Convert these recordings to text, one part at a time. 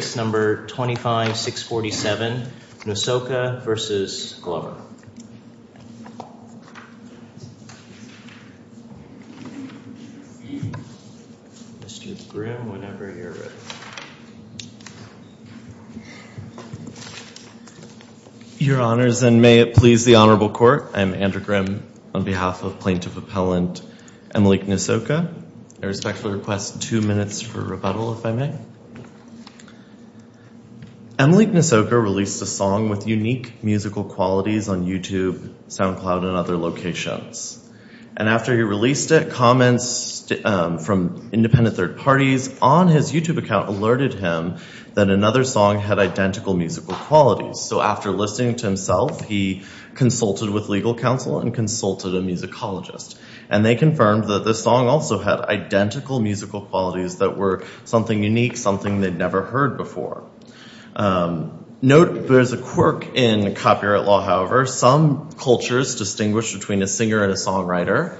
Mr. Grimm, whenever you're ready. Your Honors, and may it please the Honorable Court, I'm Andrew Grimm on behalf of Plaintiff Emily Nwosuocha released a song with unique musical qualities on YouTube, SoundCloud, and other locations. And after he released it, comments from independent third parties on his YouTube account alerted him that another song had identical musical qualities. So after listening to himself, he consulted with legal counsel and consulted a musicologist. And they confirmed that the song also had identical musical qualities that were something unique, something they'd never heard before. Note, there's a quirk in copyright law, however. Some cultures distinguish between a singer and a songwriter.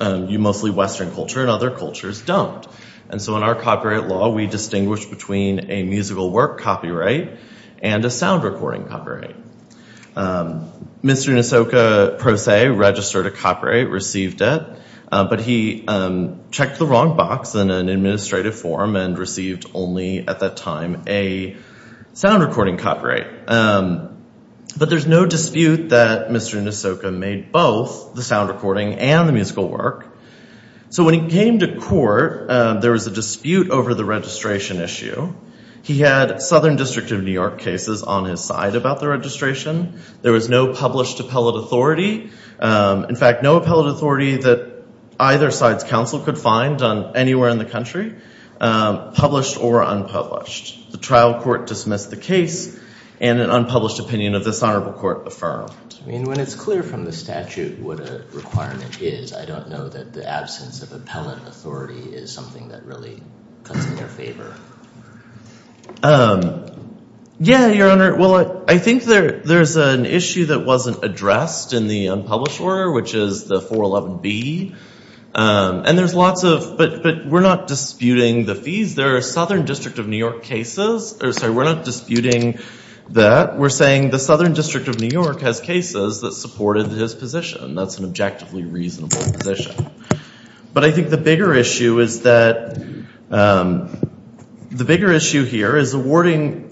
Mostly Western culture and other cultures don't. And so in our copyright law, we distinguish between a musical work copyright and a sound recording copyright. Mr. Nwosuocha, per se, registered a copyright, received it. But he checked the wrong box in an administrative form and received only at that time a sound recording copyright. But there's no dispute that Mr. Nwosuocha made both the sound recording and the musical work. So when he came to court, there was a dispute over the registration issue. He had Southern District of New York cases on his side about the registration. There was no published appellate authority. In fact, no appellate authority that either side's counsel could find anywhere in the country, published or unpublished. The trial court dismissed the case and an unpublished opinion of this honorable court affirmed. I mean, when it's clear from the statute what a requirement is, I don't know that the absence of appellate authority is something that really cuts in their favor. Yeah, Your Honor. Well, I think there's an issue that wasn't addressed in the unpublished order, which is the 411B. And there's lots of, but we're not disputing the fees. There are Southern District of New York cases. Sorry, we're not disputing that. We're saying the Southern District of New York has cases that supported his position. That's an objectively reasonable position. But I think the bigger issue is that the bigger issue here is awarding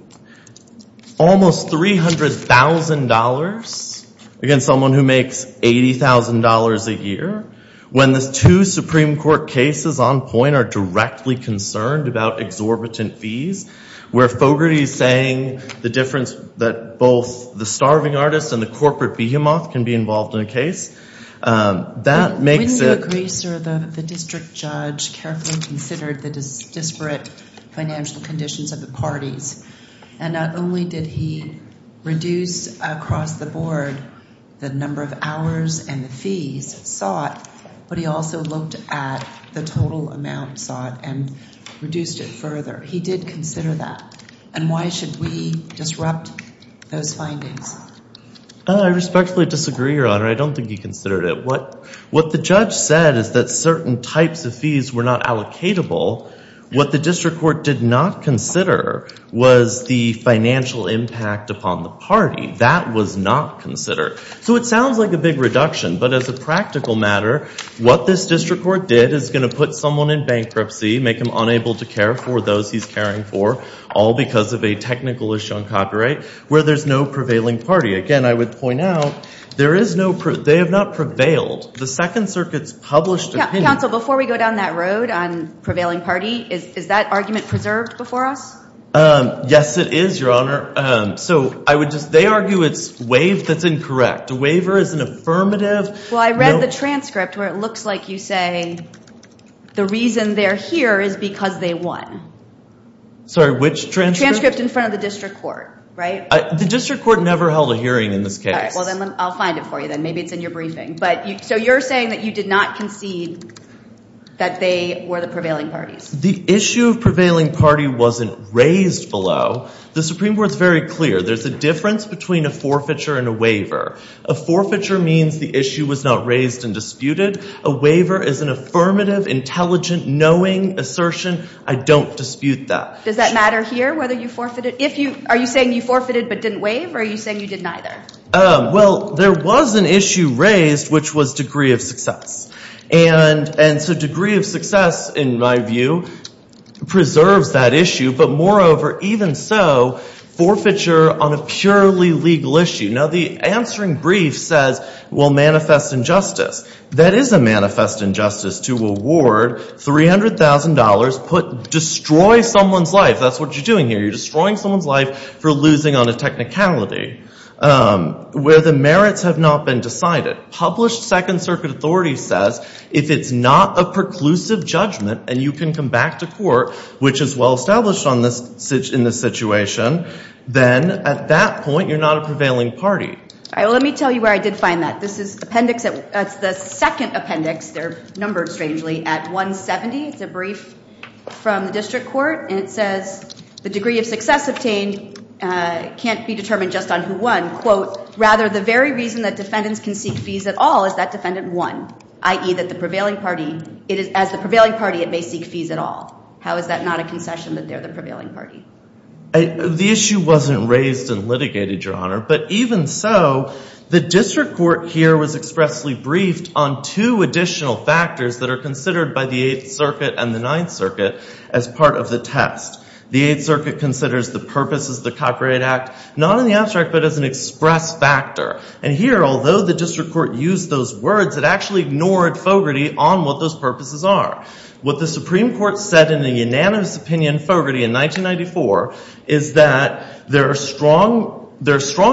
almost $300,000 against someone who makes $80,000 a year, when the two Supreme Court cases on point are directly concerned about exorbitant fees, where Fogarty's saying the difference that both the starving artist and the corporate behemoth can be involved in a case. Wouldn't you agree, sir, that the district judge carefully considered the disparate financial conditions of the parties? And not only did he reduce across the board the number of hours and the fees sought, but he also looked at the total amount sought and reduced it further. He did consider that. And why should we disrupt those findings? I respectfully disagree, Your Honor. I don't think he considered it. What the judge said is that certain types of fees were not allocatable. What the district court did not consider was the financial impact upon the party. That was not considered. So it sounds like a big reduction. But as a practical matter, what this district court did is going to put someone in bankruptcy, make him unable to care for those he's caring for, all because of a technical issue on copyright, where there's no prevailing party. Again, I would point out, they have not prevailed. The Second Circuit's published opinion. Counsel, before we go down that road on prevailing party, is that argument preserved before us? Yes, it is, Your Honor. So they argue it's waived that's incorrect. A waiver is an affirmative. Well, I read the transcript where it looks like you say the reason they're here is because they won. Sorry, which transcript? Transcript in front of the district court, right? The district court never held a hearing in this case. Well, then I'll find it for you then. Maybe it's in your briefing. So you're saying that you did not concede that they were the prevailing parties. The issue of prevailing party wasn't raised below. The Supreme Court's very clear. There's a difference between a forfeiture and a waiver. A forfeiture means the issue was not raised and disputed. A waiver is an affirmative, intelligent, knowing assertion. I don't dispute that. Does that matter here, whether you forfeited? Are you saying you forfeited but didn't waive, or are you saying you did neither? Well, there was an issue raised, which was degree of success. And so degree of success, in my view, preserves that issue, but moreover, even so, forfeiture on a purely legal issue. Now, the answering brief says, well, manifest injustice. That is a manifest injustice to award $300,000, destroy someone's life. That's what you're doing here. You're destroying someone's life for losing on a technicality where the merits have not been decided. Published Second Circuit authority says if it's not a preclusive judgment and you can come back to court, which is well-established in this situation, then at that point, you're not a prevailing party. All right. Well, let me tell you where I did find that. This is appendix. That's the second appendix. They're numbered, strangely, at 170. It's a brief from the district court. And it says the degree of success obtained can't be determined just on who won. Quote, rather, the very reason that defendants can seek fees at all is that defendant won, i.e. that the prevailing party, as the prevailing party, it may seek fees at all. How is that not a concession that they're the prevailing party? The issue wasn't raised and litigated, Your Honor. But even so, the district court here was expressly briefed on two additional factors that are considered by the Eighth Circuit and the Ninth Circuit as part of the test. The Eighth Circuit considers the purpose of the Cochrane Act, not in the abstract, but as an express factor. And here, although the district court used those words, it actually ignored Fogarty on what those purposes are. What the Supreme Court said in a unanimous opinion, Fogarty, in 1994, is that there are strong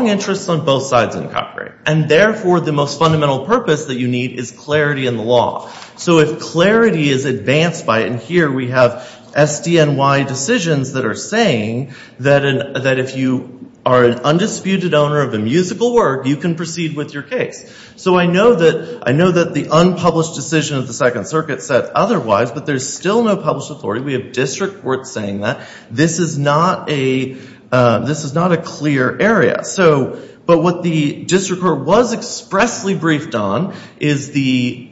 interests on both sides in Cochrane. And therefore, the most fundamental purpose that you need is clarity in the law. So if clarity is advanced by it, and here we have SDNY decisions that are saying that if you are an undisputed owner of a musical work, you can proceed with your case. So I know that the unpublished decision of the Second Circuit said otherwise, but there's still no published authority. We have district courts saying that. This is not a clear area. But what the district court was expressly briefed on is the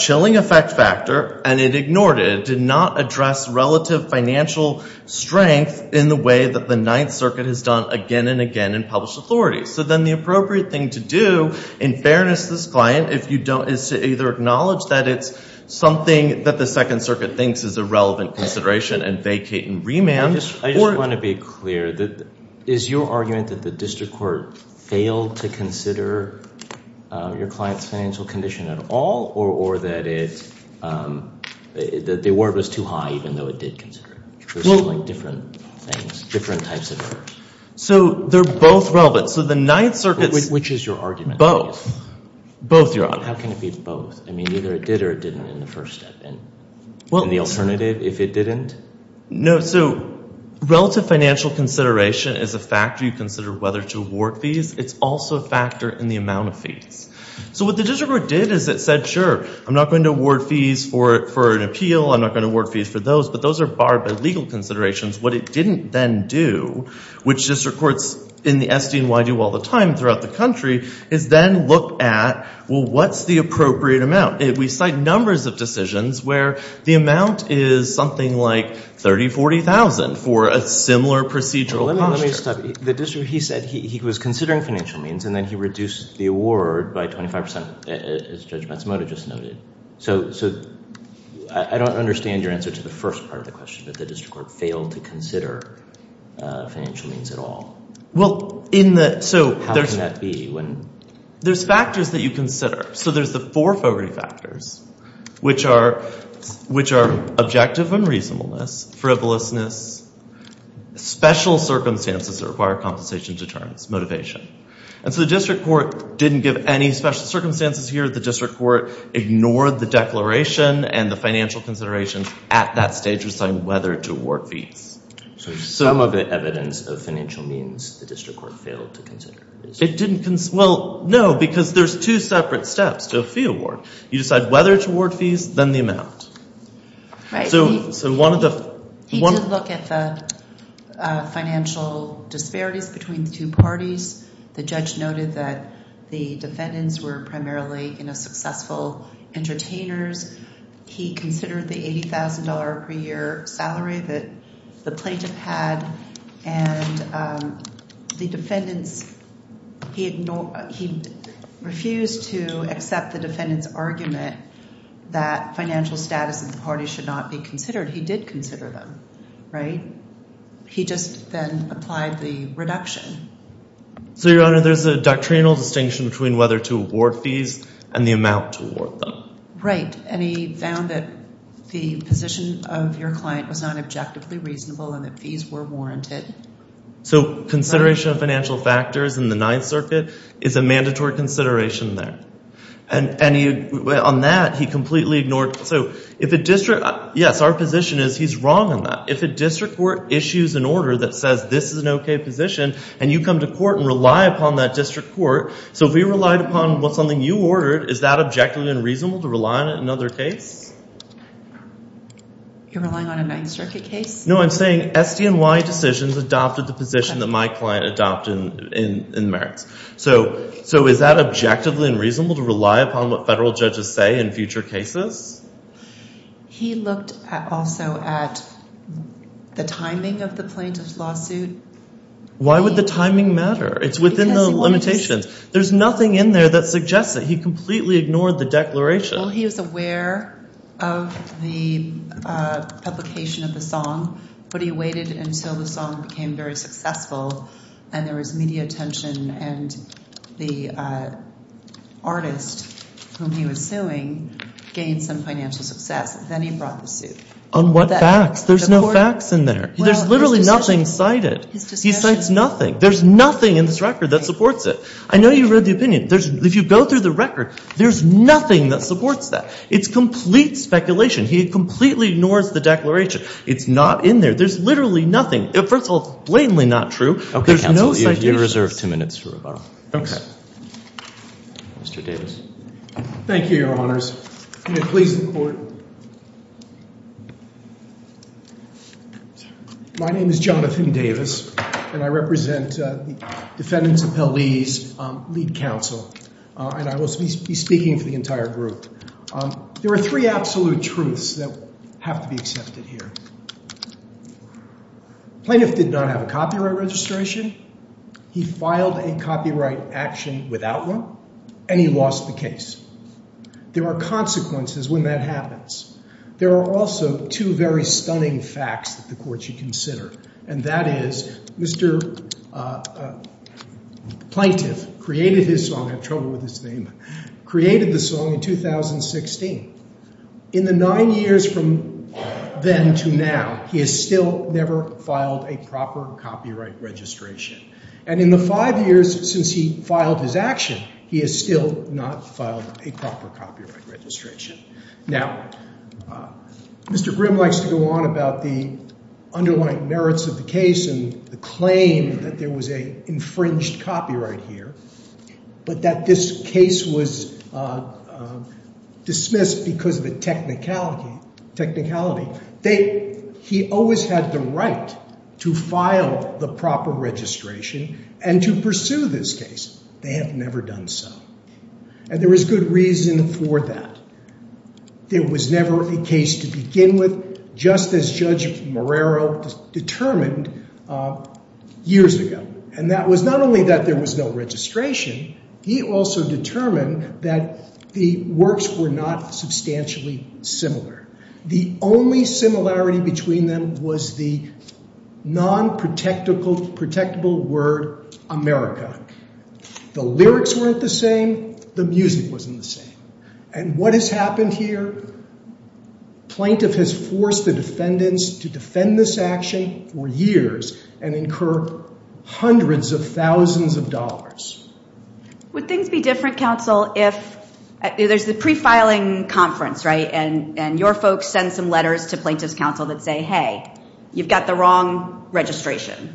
chilling effect factor, and it ignored it. It did not address relative financial strength in the way that the Ninth Circuit has done again and again in published authority. So then the appropriate thing to do, in fairness to this client, is to either acknowledge that it's something that the Second Circuit thinks is a relevant consideration and vacate and remand. I just want to be clear. Is your argument that the district court failed to consider your client's financial condition at all, or that the award was too high, even though it did consider it? There's different things, different types of errors. So they're both relevant. So the Ninth Circuit's— Which is your argument? Both. Both, Your Honor. How can it be both? I mean, either it did or it didn't in the first step. And the alternative, if it didn't? No. So relative financial consideration is a factor you consider whether to award fees. It's also a factor in the amount of fees. So what the district court did is it said, sure, I'm not going to award fees for an appeal. I'm not going to award fees for those. But those are barred by legal considerations. What it didn't then do, which district courts in the SDNY do all the time throughout the country, is then look at, well, what's the appropriate amount? We cite numbers of decisions where the amount is something like 30,000, 40,000 for a similar procedural posture. Let me stop you. The district, he said he was considering financial means, and then he reduced the award by 25 percent, as Judge Matsumoto just noted. So I don't understand your answer to the first part of the question, that the district court failed to consider financial means at all. Well, in the— How can that be when— There's factors that you consider. So there's the four Fogarty factors, which are objective unreasonableness, frivolousness, special circumstances that require compensation deterrence, motivation. And so the district court didn't give any special circumstances here. The district court ignored the declaration and the financial considerations at that stage of deciding whether to award fees. So some of the evidence of financial means the district court failed to consider. It didn't—well, no, because there's two separate steps to a fee award. You decide whether to award fees, then the amount. Right. So one of the— He did look at the financial disparities between the two parties. The judge noted that the defendants were primarily, you know, successful entertainers. He considered the $80,000 per year salary that the plaintiff had. And the defendants—he refused to accept the defendant's argument that financial status in the party should not be considered. He did consider them, right? He just then applied the reduction. So, Your Honor, there's a doctrinal distinction between whether to award fees and the amount to award them. Right. And he found that the position of your client was not objectively reasonable and that fees were warranted. So consideration of financial factors in the Ninth Circuit is a mandatory consideration there. And on that, he completely ignored—so if a district—yes, our position is he's wrong on that. If a district court issues an order that says this is an okay position and you come to court and rely upon that district court, so if we relied upon something you ordered, is that objectively unreasonable to rely on another case? You're relying on a Ninth Circuit case? No, I'm saying SDNY decisions adopted the position that my client adopted in merits. So is that objectively unreasonable to rely upon what federal judges say in future cases? He looked also at the timing of the plaintiff's lawsuit. Why would the timing matter? It's within the limitations. There's nothing in there that suggests that. He completely ignored the declaration. Well, he was aware of the publication of the song, but he waited until the song became very successful and there was media attention and the artist whom he was suing gained some financial success. Then he brought the suit. On what facts? There's no facts in there. There's literally nothing cited. He cites nothing. There's nothing in this record that supports it. I know you read the opinion. If you go through the record, there's nothing that supports that. It's complete speculation. He completely ignores the declaration. It's not in there. There's literally nothing. First of all, it's blatantly not true. There's no citation. Okay, counsel, you're reserved two minutes for rebuttal. Okay. Mr. Davis. Thank you, Your Honors. May it please the Court. My name is Jonathan Davis, and I represent the defendant's appellee's lead counsel, and I will be speaking for the entire group. There are three absolute truths that have to be accepted here. Plaintiff did not have a copyright registration. He filed a copyright action without one, and he lost the case. There are consequences when that happens. There are also two very stunning facts that the Court should consider, and that is Mr. Plaintiff created his song in 2016. In the nine years from then to now, he has still never filed a proper copyright registration. And in the five years since he filed his action, he has still not filed a proper copyright registration. Now, Mr. Grimm likes to go on about the underlying merits of the case and the claim that there was an infringed copyright here, but that this case was dismissed because of a technicality. He always had the right to file the proper registration and to pursue this case. They have never done so. And there is good reason for that. There was never a case to begin with, just as Judge Marrero determined years ago. And that was not only that there was no registration. He also determined that the works were not substantially similar. The only similarity between them was the non-protectable word, America. The lyrics weren't the same. The music wasn't the same. And what has happened here? Plaintiff has forced the defendants to defend this action for years and incur hundreds of thousands of dollars. Would things be different, counsel, if there's the pre-filing conference, right, and your folks send some letters to plaintiff's counsel that say, hey, you've got the wrong registration.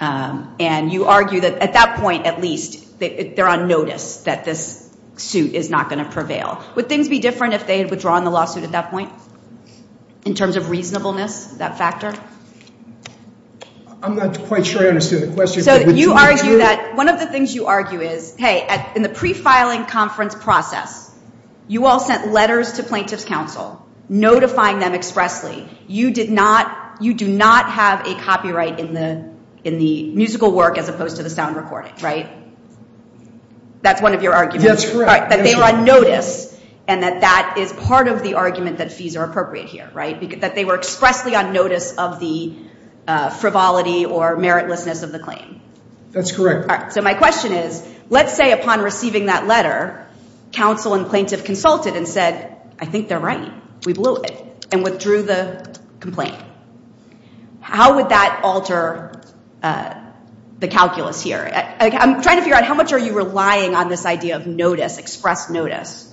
And you argue that at that point, at least, they're on notice that this suit is not going to prevail. Would things be different if they had withdrawn the lawsuit at that point in terms of reasonableness, that factor? I'm not quite sure I understood the question. So you argue that one of the things you argue is, hey, in the pre-filing conference process, you all sent letters to plaintiff's counsel notifying them expressly, you do not have a copyright in the musical work as opposed to the sound recording, right? That's one of your arguments. That's correct. That they are on notice and that that is part of the argument that fees are appropriate here, right, that they were expressly on notice of the frivolity or meritlessness of the claim. That's correct. So my question is, let's say upon receiving that letter, counsel and plaintiff consulted and said, I think they're right, we blew it, and withdrew the complaint. How would that alter the calculus here? I'm trying to figure out how much are you relying on this idea of notice, express notice?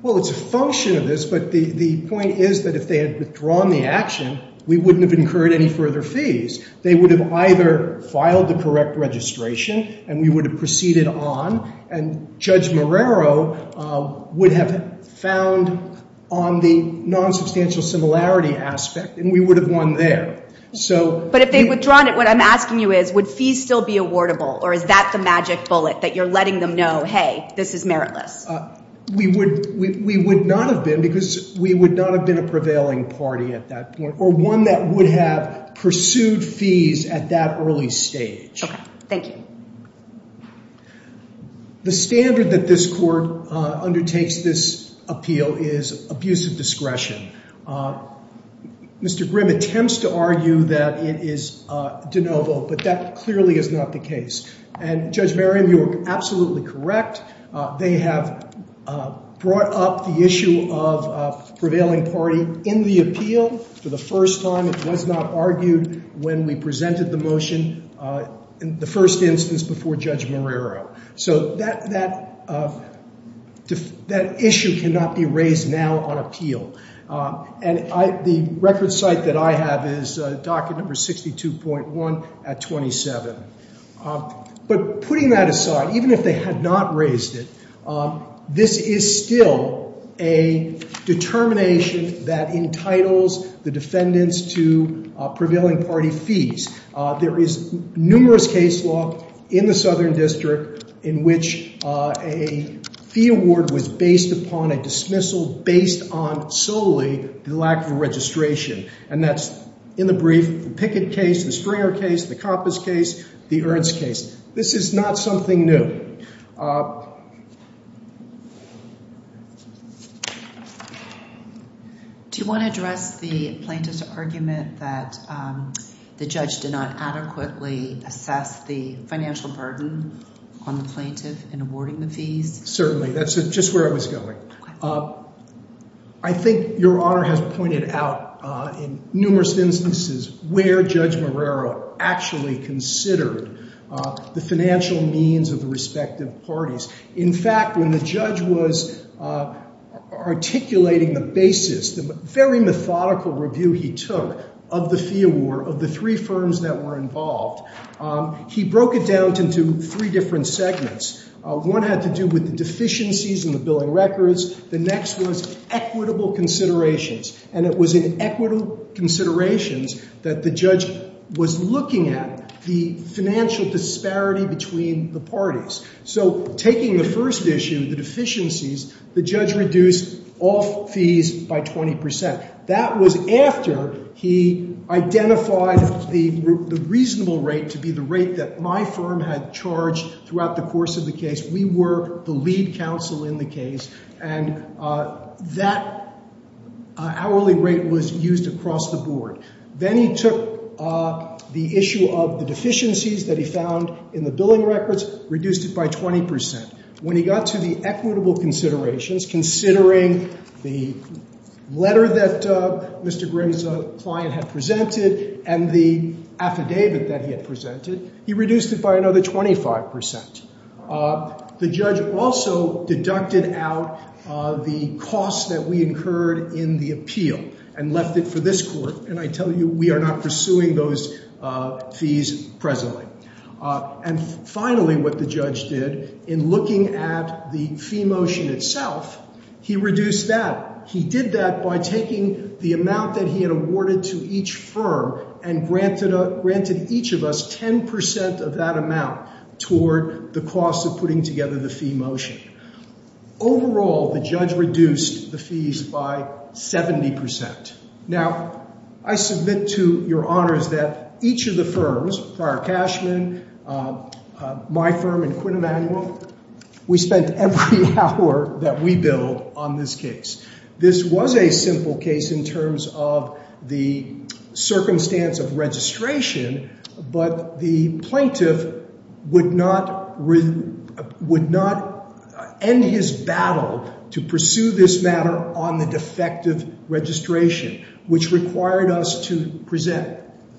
Well, it's a function of this, but the point is that if they had withdrawn the action, we wouldn't have incurred any further fees. They would have either filed the correct registration and we would have proceeded on, and Judge Marrero would have found on the nonsubstantial similarity aspect and we would have won there. But if they've withdrawn it, what I'm asking you is, would fees still be awardable or is that the magic bullet that you're letting them know, hey, this is meritless? We would not have been because we would not have been a prevailing party at that point or one that would have pursued fees at that early stage. Okay. Thank you. The standard that this court undertakes this appeal is abuse of discretion. Mr. Grimm attempts to argue that it is de novo, but that clearly is not the case. And Judge Merriam, you are absolutely correct. They have brought up the issue of prevailing party in the appeal for the first time. It was not argued when we presented the motion in the first instance before Judge Marrero. So that issue cannot be raised now on appeal. And the record site that I have is docket number 62.1 at 27. But putting that aside, even if they had not raised it, this is still a determination that entitles the defendants to prevailing party fees. There is numerous case law in the Southern District in which a fee award was based upon a dismissal based on solely the lack of registration. And that's, in the brief, the Pickett case, the Springer case, the Compass case, the Ernst case. This is not something new. Do you want to address the plaintiff's argument that the judge did not adequately assess the financial burden on the plaintiff in awarding the fees? Certainly. That's just where I was going. I think Your Honor has pointed out, in numerous instances, where Judge Marrero actually considered the financial means of the respective parties. In fact, when the judge was articulating the basis, the very methodical review he took of the fee award of the three firms that were involved, he broke it down into three different segments. One had to do with the deficiencies in the billing records. The next was equitable considerations. And it was in equitable considerations that the judge was looking at the financial disparity between the parties. So taking the first issue, the deficiencies, the judge reduced all fees by 20%. That was after he identified the reasonable rate to be the rate that my firm had charged throughout the course of the case. We were the lead counsel in the case. And that hourly rate was used across the board. Then he took the issue of the deficiencies that he found in the billing records, reduced it by 20%. When he got to the equitable considerations, considering the letter that Mr. Grimm's client had presented and the affidavit that he had presented, he reduced it by another 25%. The judge also deducted out the cost that we incurred in the appeal and left it for this court. And I tell you, we are not pursuing those fees presently. And finally, what the judge did in looking at the fee motion itself, he reduced that. He did that by taking the amount that he had awarded to each firm and granted each of us 10% of that amount toward the cost of putting together the fee motion. Overall, the judge reduced the fees by 70%. Now, I submit to your honors that each of the firms, Prior Cashman, my firm, and Quinn Emanuel, we spent every hour that we billed on this case. This was a simple case in terms of the circumstance of registration, but the plaintiff would not end his battle to pursue this matter on the defective registration, which required us to present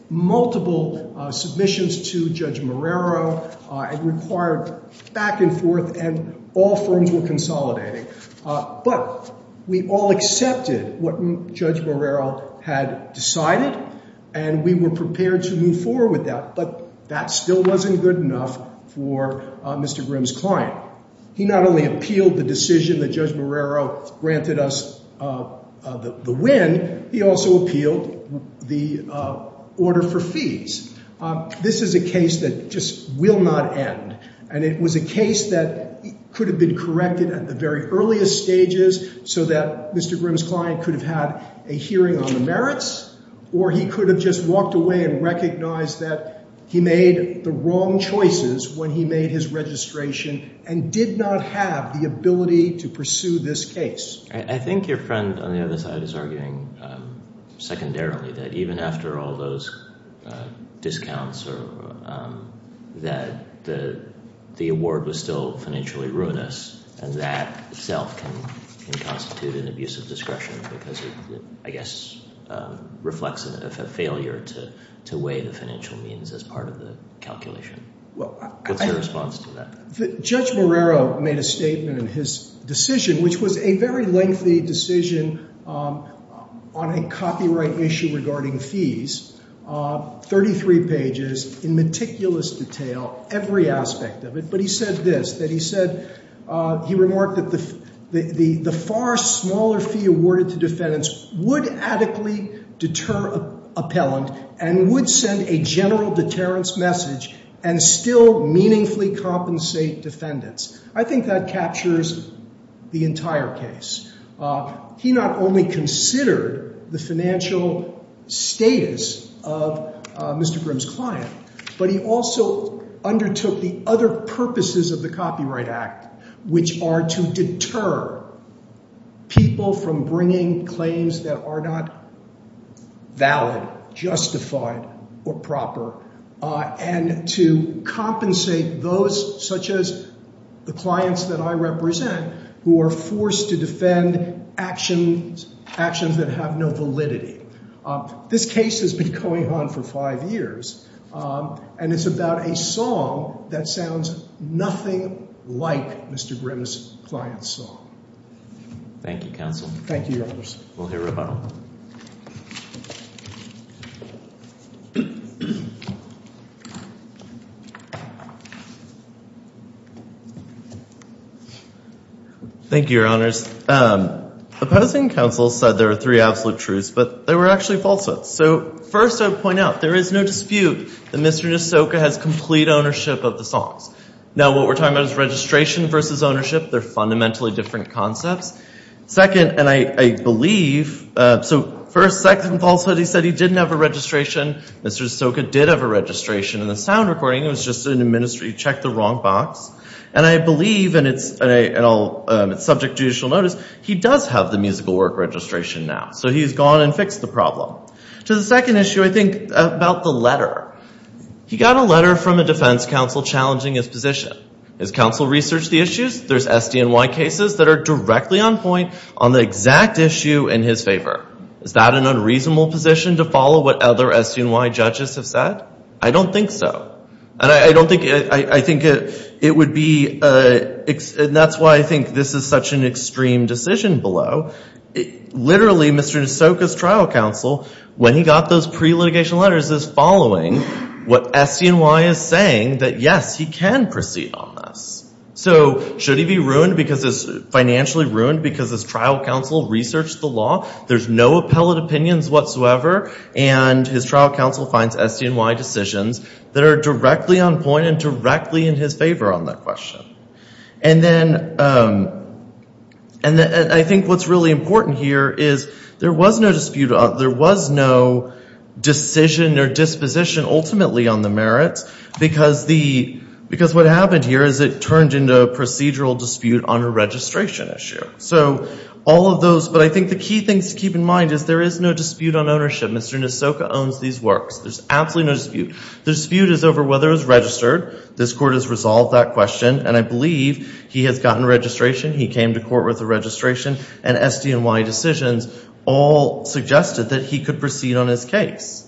multiple submissions to Judge Marrero. It required back and forth, and all firms were consolidating. But we all accepted what Judge Marrero had decided, and we were prepared to move forward with that, but that still wasn't good enough for Mr. Grimm's client. He not only appealed the decision that Judge Marrero granted us the win, he also appealed the order for fees. This is a case that just will not end, and it was a case that could have been corrected at the very earliest stages so that Mr. Grimm's client could have had a hearing on the merits, or he could have just walked away and recognized that he made the wrong choices when he made his registration and did not have the ability to pursue this case. I think your friend on the other side is arguing secondarily that even after all those discounts that the award was still financially ruinous, and that itself can constitute an abuse of discretion because it, I guess, reflects a failure to weigh the financial means as part of the calculation. What's your response to that? Judge Marrero made a statement in his decision, which was a very lengthy decision on a copyright issue regarding fees, 33 pages, in meticulous detail, every aspect of it. But he said this, that he remarked that the far smaller fee awarded to defendants would adequately deter appellant and would send a general deterrence message and still meaningfully compensate defendants. I think that captures the entire case. He not only considered the financial status of Mr. Grimm's client, but he also undertook the other purposes of the Copyright Act, which are to deter people from bringing claims that are not valid, justified, or proper, and to compensate those, such as the clients that I represent, who are forced to defend actions that have no validity. This case has been going on for five years, and it's about a song that sounds nothing like Mr. Grimm's client's song. Thank you, counsel. Thank you, Your Honor. We'll hear rebuttal. Thank you, Your Honors. Opposing counsel said there were three absolute truths, but there were actually falsehoods. So first, I would point out, there is no dispute that Mr. Nassoka has complete ownership of the songs. Now, what we're talking about is registration versus ownership. They're fundamentally different concepts. Second, and I believe, so first, second falsehood, he said he didn't have a registration. Mr. Nassoka did have a registration in the sound recording. It was just an administrative check, the wrong box. And I believe, and it's subject to judicial notice, he does have the musical work registration now. So he's gone and fixed the problem. To the second issue, I think, about the letter. He got a letter from a defense counsel challenging his position. Has counsel researched the issues? There's SDNY cases that are directly on point on the exact issue in his favor. Is that an unreasonable position to follow what other SDNY judges have said? I don't think so. And I don't think, I think it would be, and that's why I think this is such an extreme decision below. Literally, Mr. Nassoka's trial counsel, when he got those pre-litigation letters, is following what SDNY is saying that, yes, he can proceed on this. So should he be ruined because, financially ruined because his trial counsel researched the law? There's no appellate opinions whatsoever. And his trial counsel finds SDNY decisions that are directly on point and directly in his favor on that question. And then I think what's really important here is there was no dispute, there was no decision or disposition ultimately on the merits because the, because what happened here is it turned into a procedural dispute on a registration issue. So all of those, but I think the key things to keep in mind is there is no dispute on ownership. Mr. Nassoka owns these works. There's absolutely no dispute. The dispute is over whether it was registered. This Court has resolved that question. And I believe he has gotten registration, he came to court with a registration, and SDNY decisions all suggested that he could proceed on his case.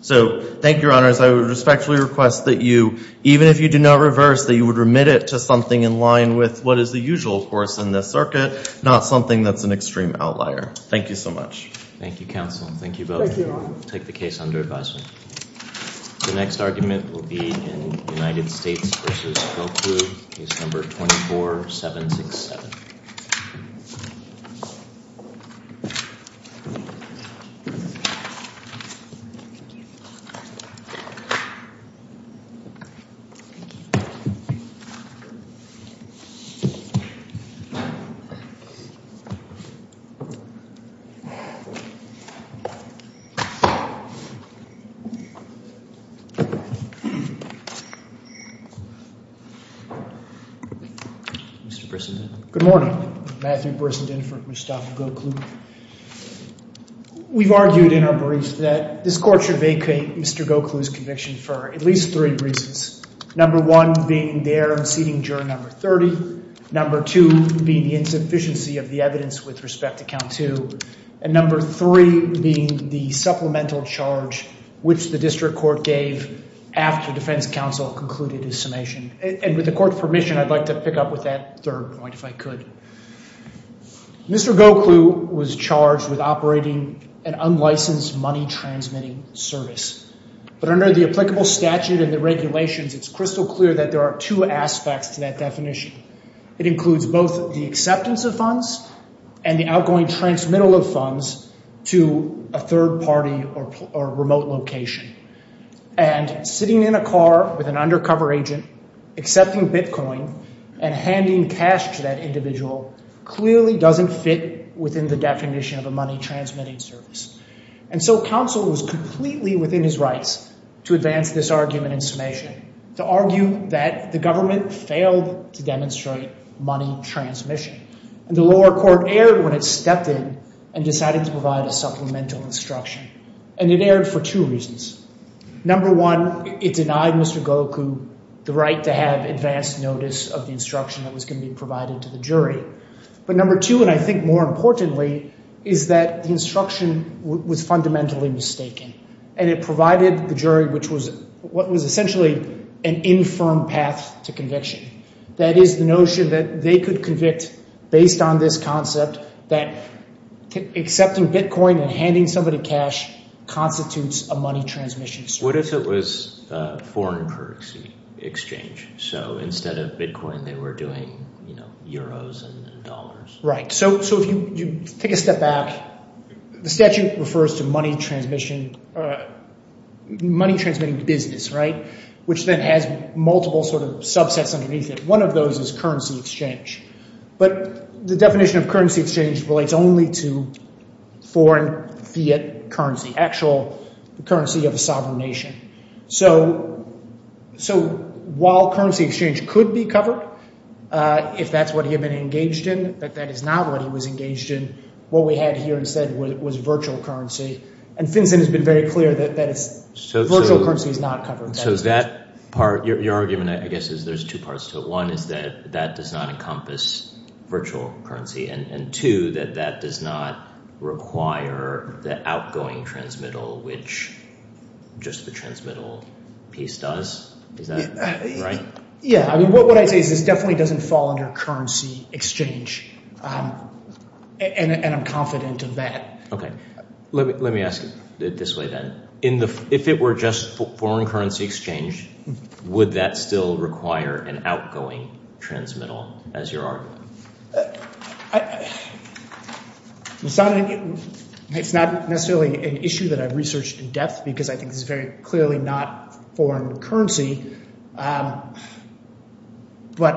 So thank you, Your Honors. I would respectfully request that you, even if you do not reverse, that you would remit it to something in line with what is the usual course in this circuit, not something that's an extreme outlier. Thank you so much. Thank you, counsel. Thank you both. Take the case under advisement. The next argument will be in United States v. Phil Kluge, case number 24-767. Mr. Brissenden. Good morning. Matthew Brissenden for Mustafa Gokul. We've argued in our brief that this Court should vacate Mr. Gokul's conviction for at least three reasons, number one being the error in seating juror number 30, number two being the insufficiency of the evidence with respect to count two, and number three being the supplemental charge, which the district court gave after defense counsel concluded his summation. And with the Court's permission, I'd like to pick up with that third point, if I could. Mr. Gokul was charged with operating an unlicensed money-transmitting service. But under the applicable statute and the regulations, it's crystal clear that there are two aspects to that definition. It includes both the acceptance of funds and the outgoing transmittal of funds to a third party or remote location. And sitting in a car with an undercover agent, accepting Bitcoin, and handing cash to that individual clearly doesn't fit within the definition of a money-transmitting service. And so counsel was completely within his rights to advance this argument in summation, to argue that the government failed to demonstrate money transmission. And the lower court erred when it stepped in and decided to provide a supplemental instruction. And it erred for two reasons. Number one, it denied Mr. Gokul the right to have advanced notice of the instruction that was going to be provided to the jury. But number two, and I think more importantly, is that the instruction was fundamentally mistaken. And it provided the jury what was essentially an infirm path to conviction. That is the notion that they could convict based on this concept, that accepting Bitcoin and handing somebody cash constitutes a money-transmission service. What if it was a foreign currency exchange? So instead of Bitcoin, they were doing, you know, euros and dollars. Right. So if you take a step back, the statute refers to money transmission, money-transmitting business, right, which then has multiple sort of subsets underneath it. One of those is currency exchange. But the definition of currency exchange relates only to foreign fiat currency, actual currency of a sovereign nation. So while currency exchange could be covered, if that's what he had been engaged in, that that is not what he was engaged in, what we had here instead was virtual currency. And FinCEN has been very clear that virtual currency is not covered. So that part, your argument, I guess, is there's two parts to it. One is that that does not encompass virtual currency. And two, that that does not require the outgoing transmittal, which just the transmittal piece does. Is that right? Yeah. I mean, what I say is this definitely doesn't fall under currency exchange. And I'm confident of that. OK. Let me ask it this way, then. If it were just foreign currency exchange, would that still require an outgoing transmittal, as your argument? It's not necessarily an issue that I've researched in depth because I think this is very clearly not foreign currency.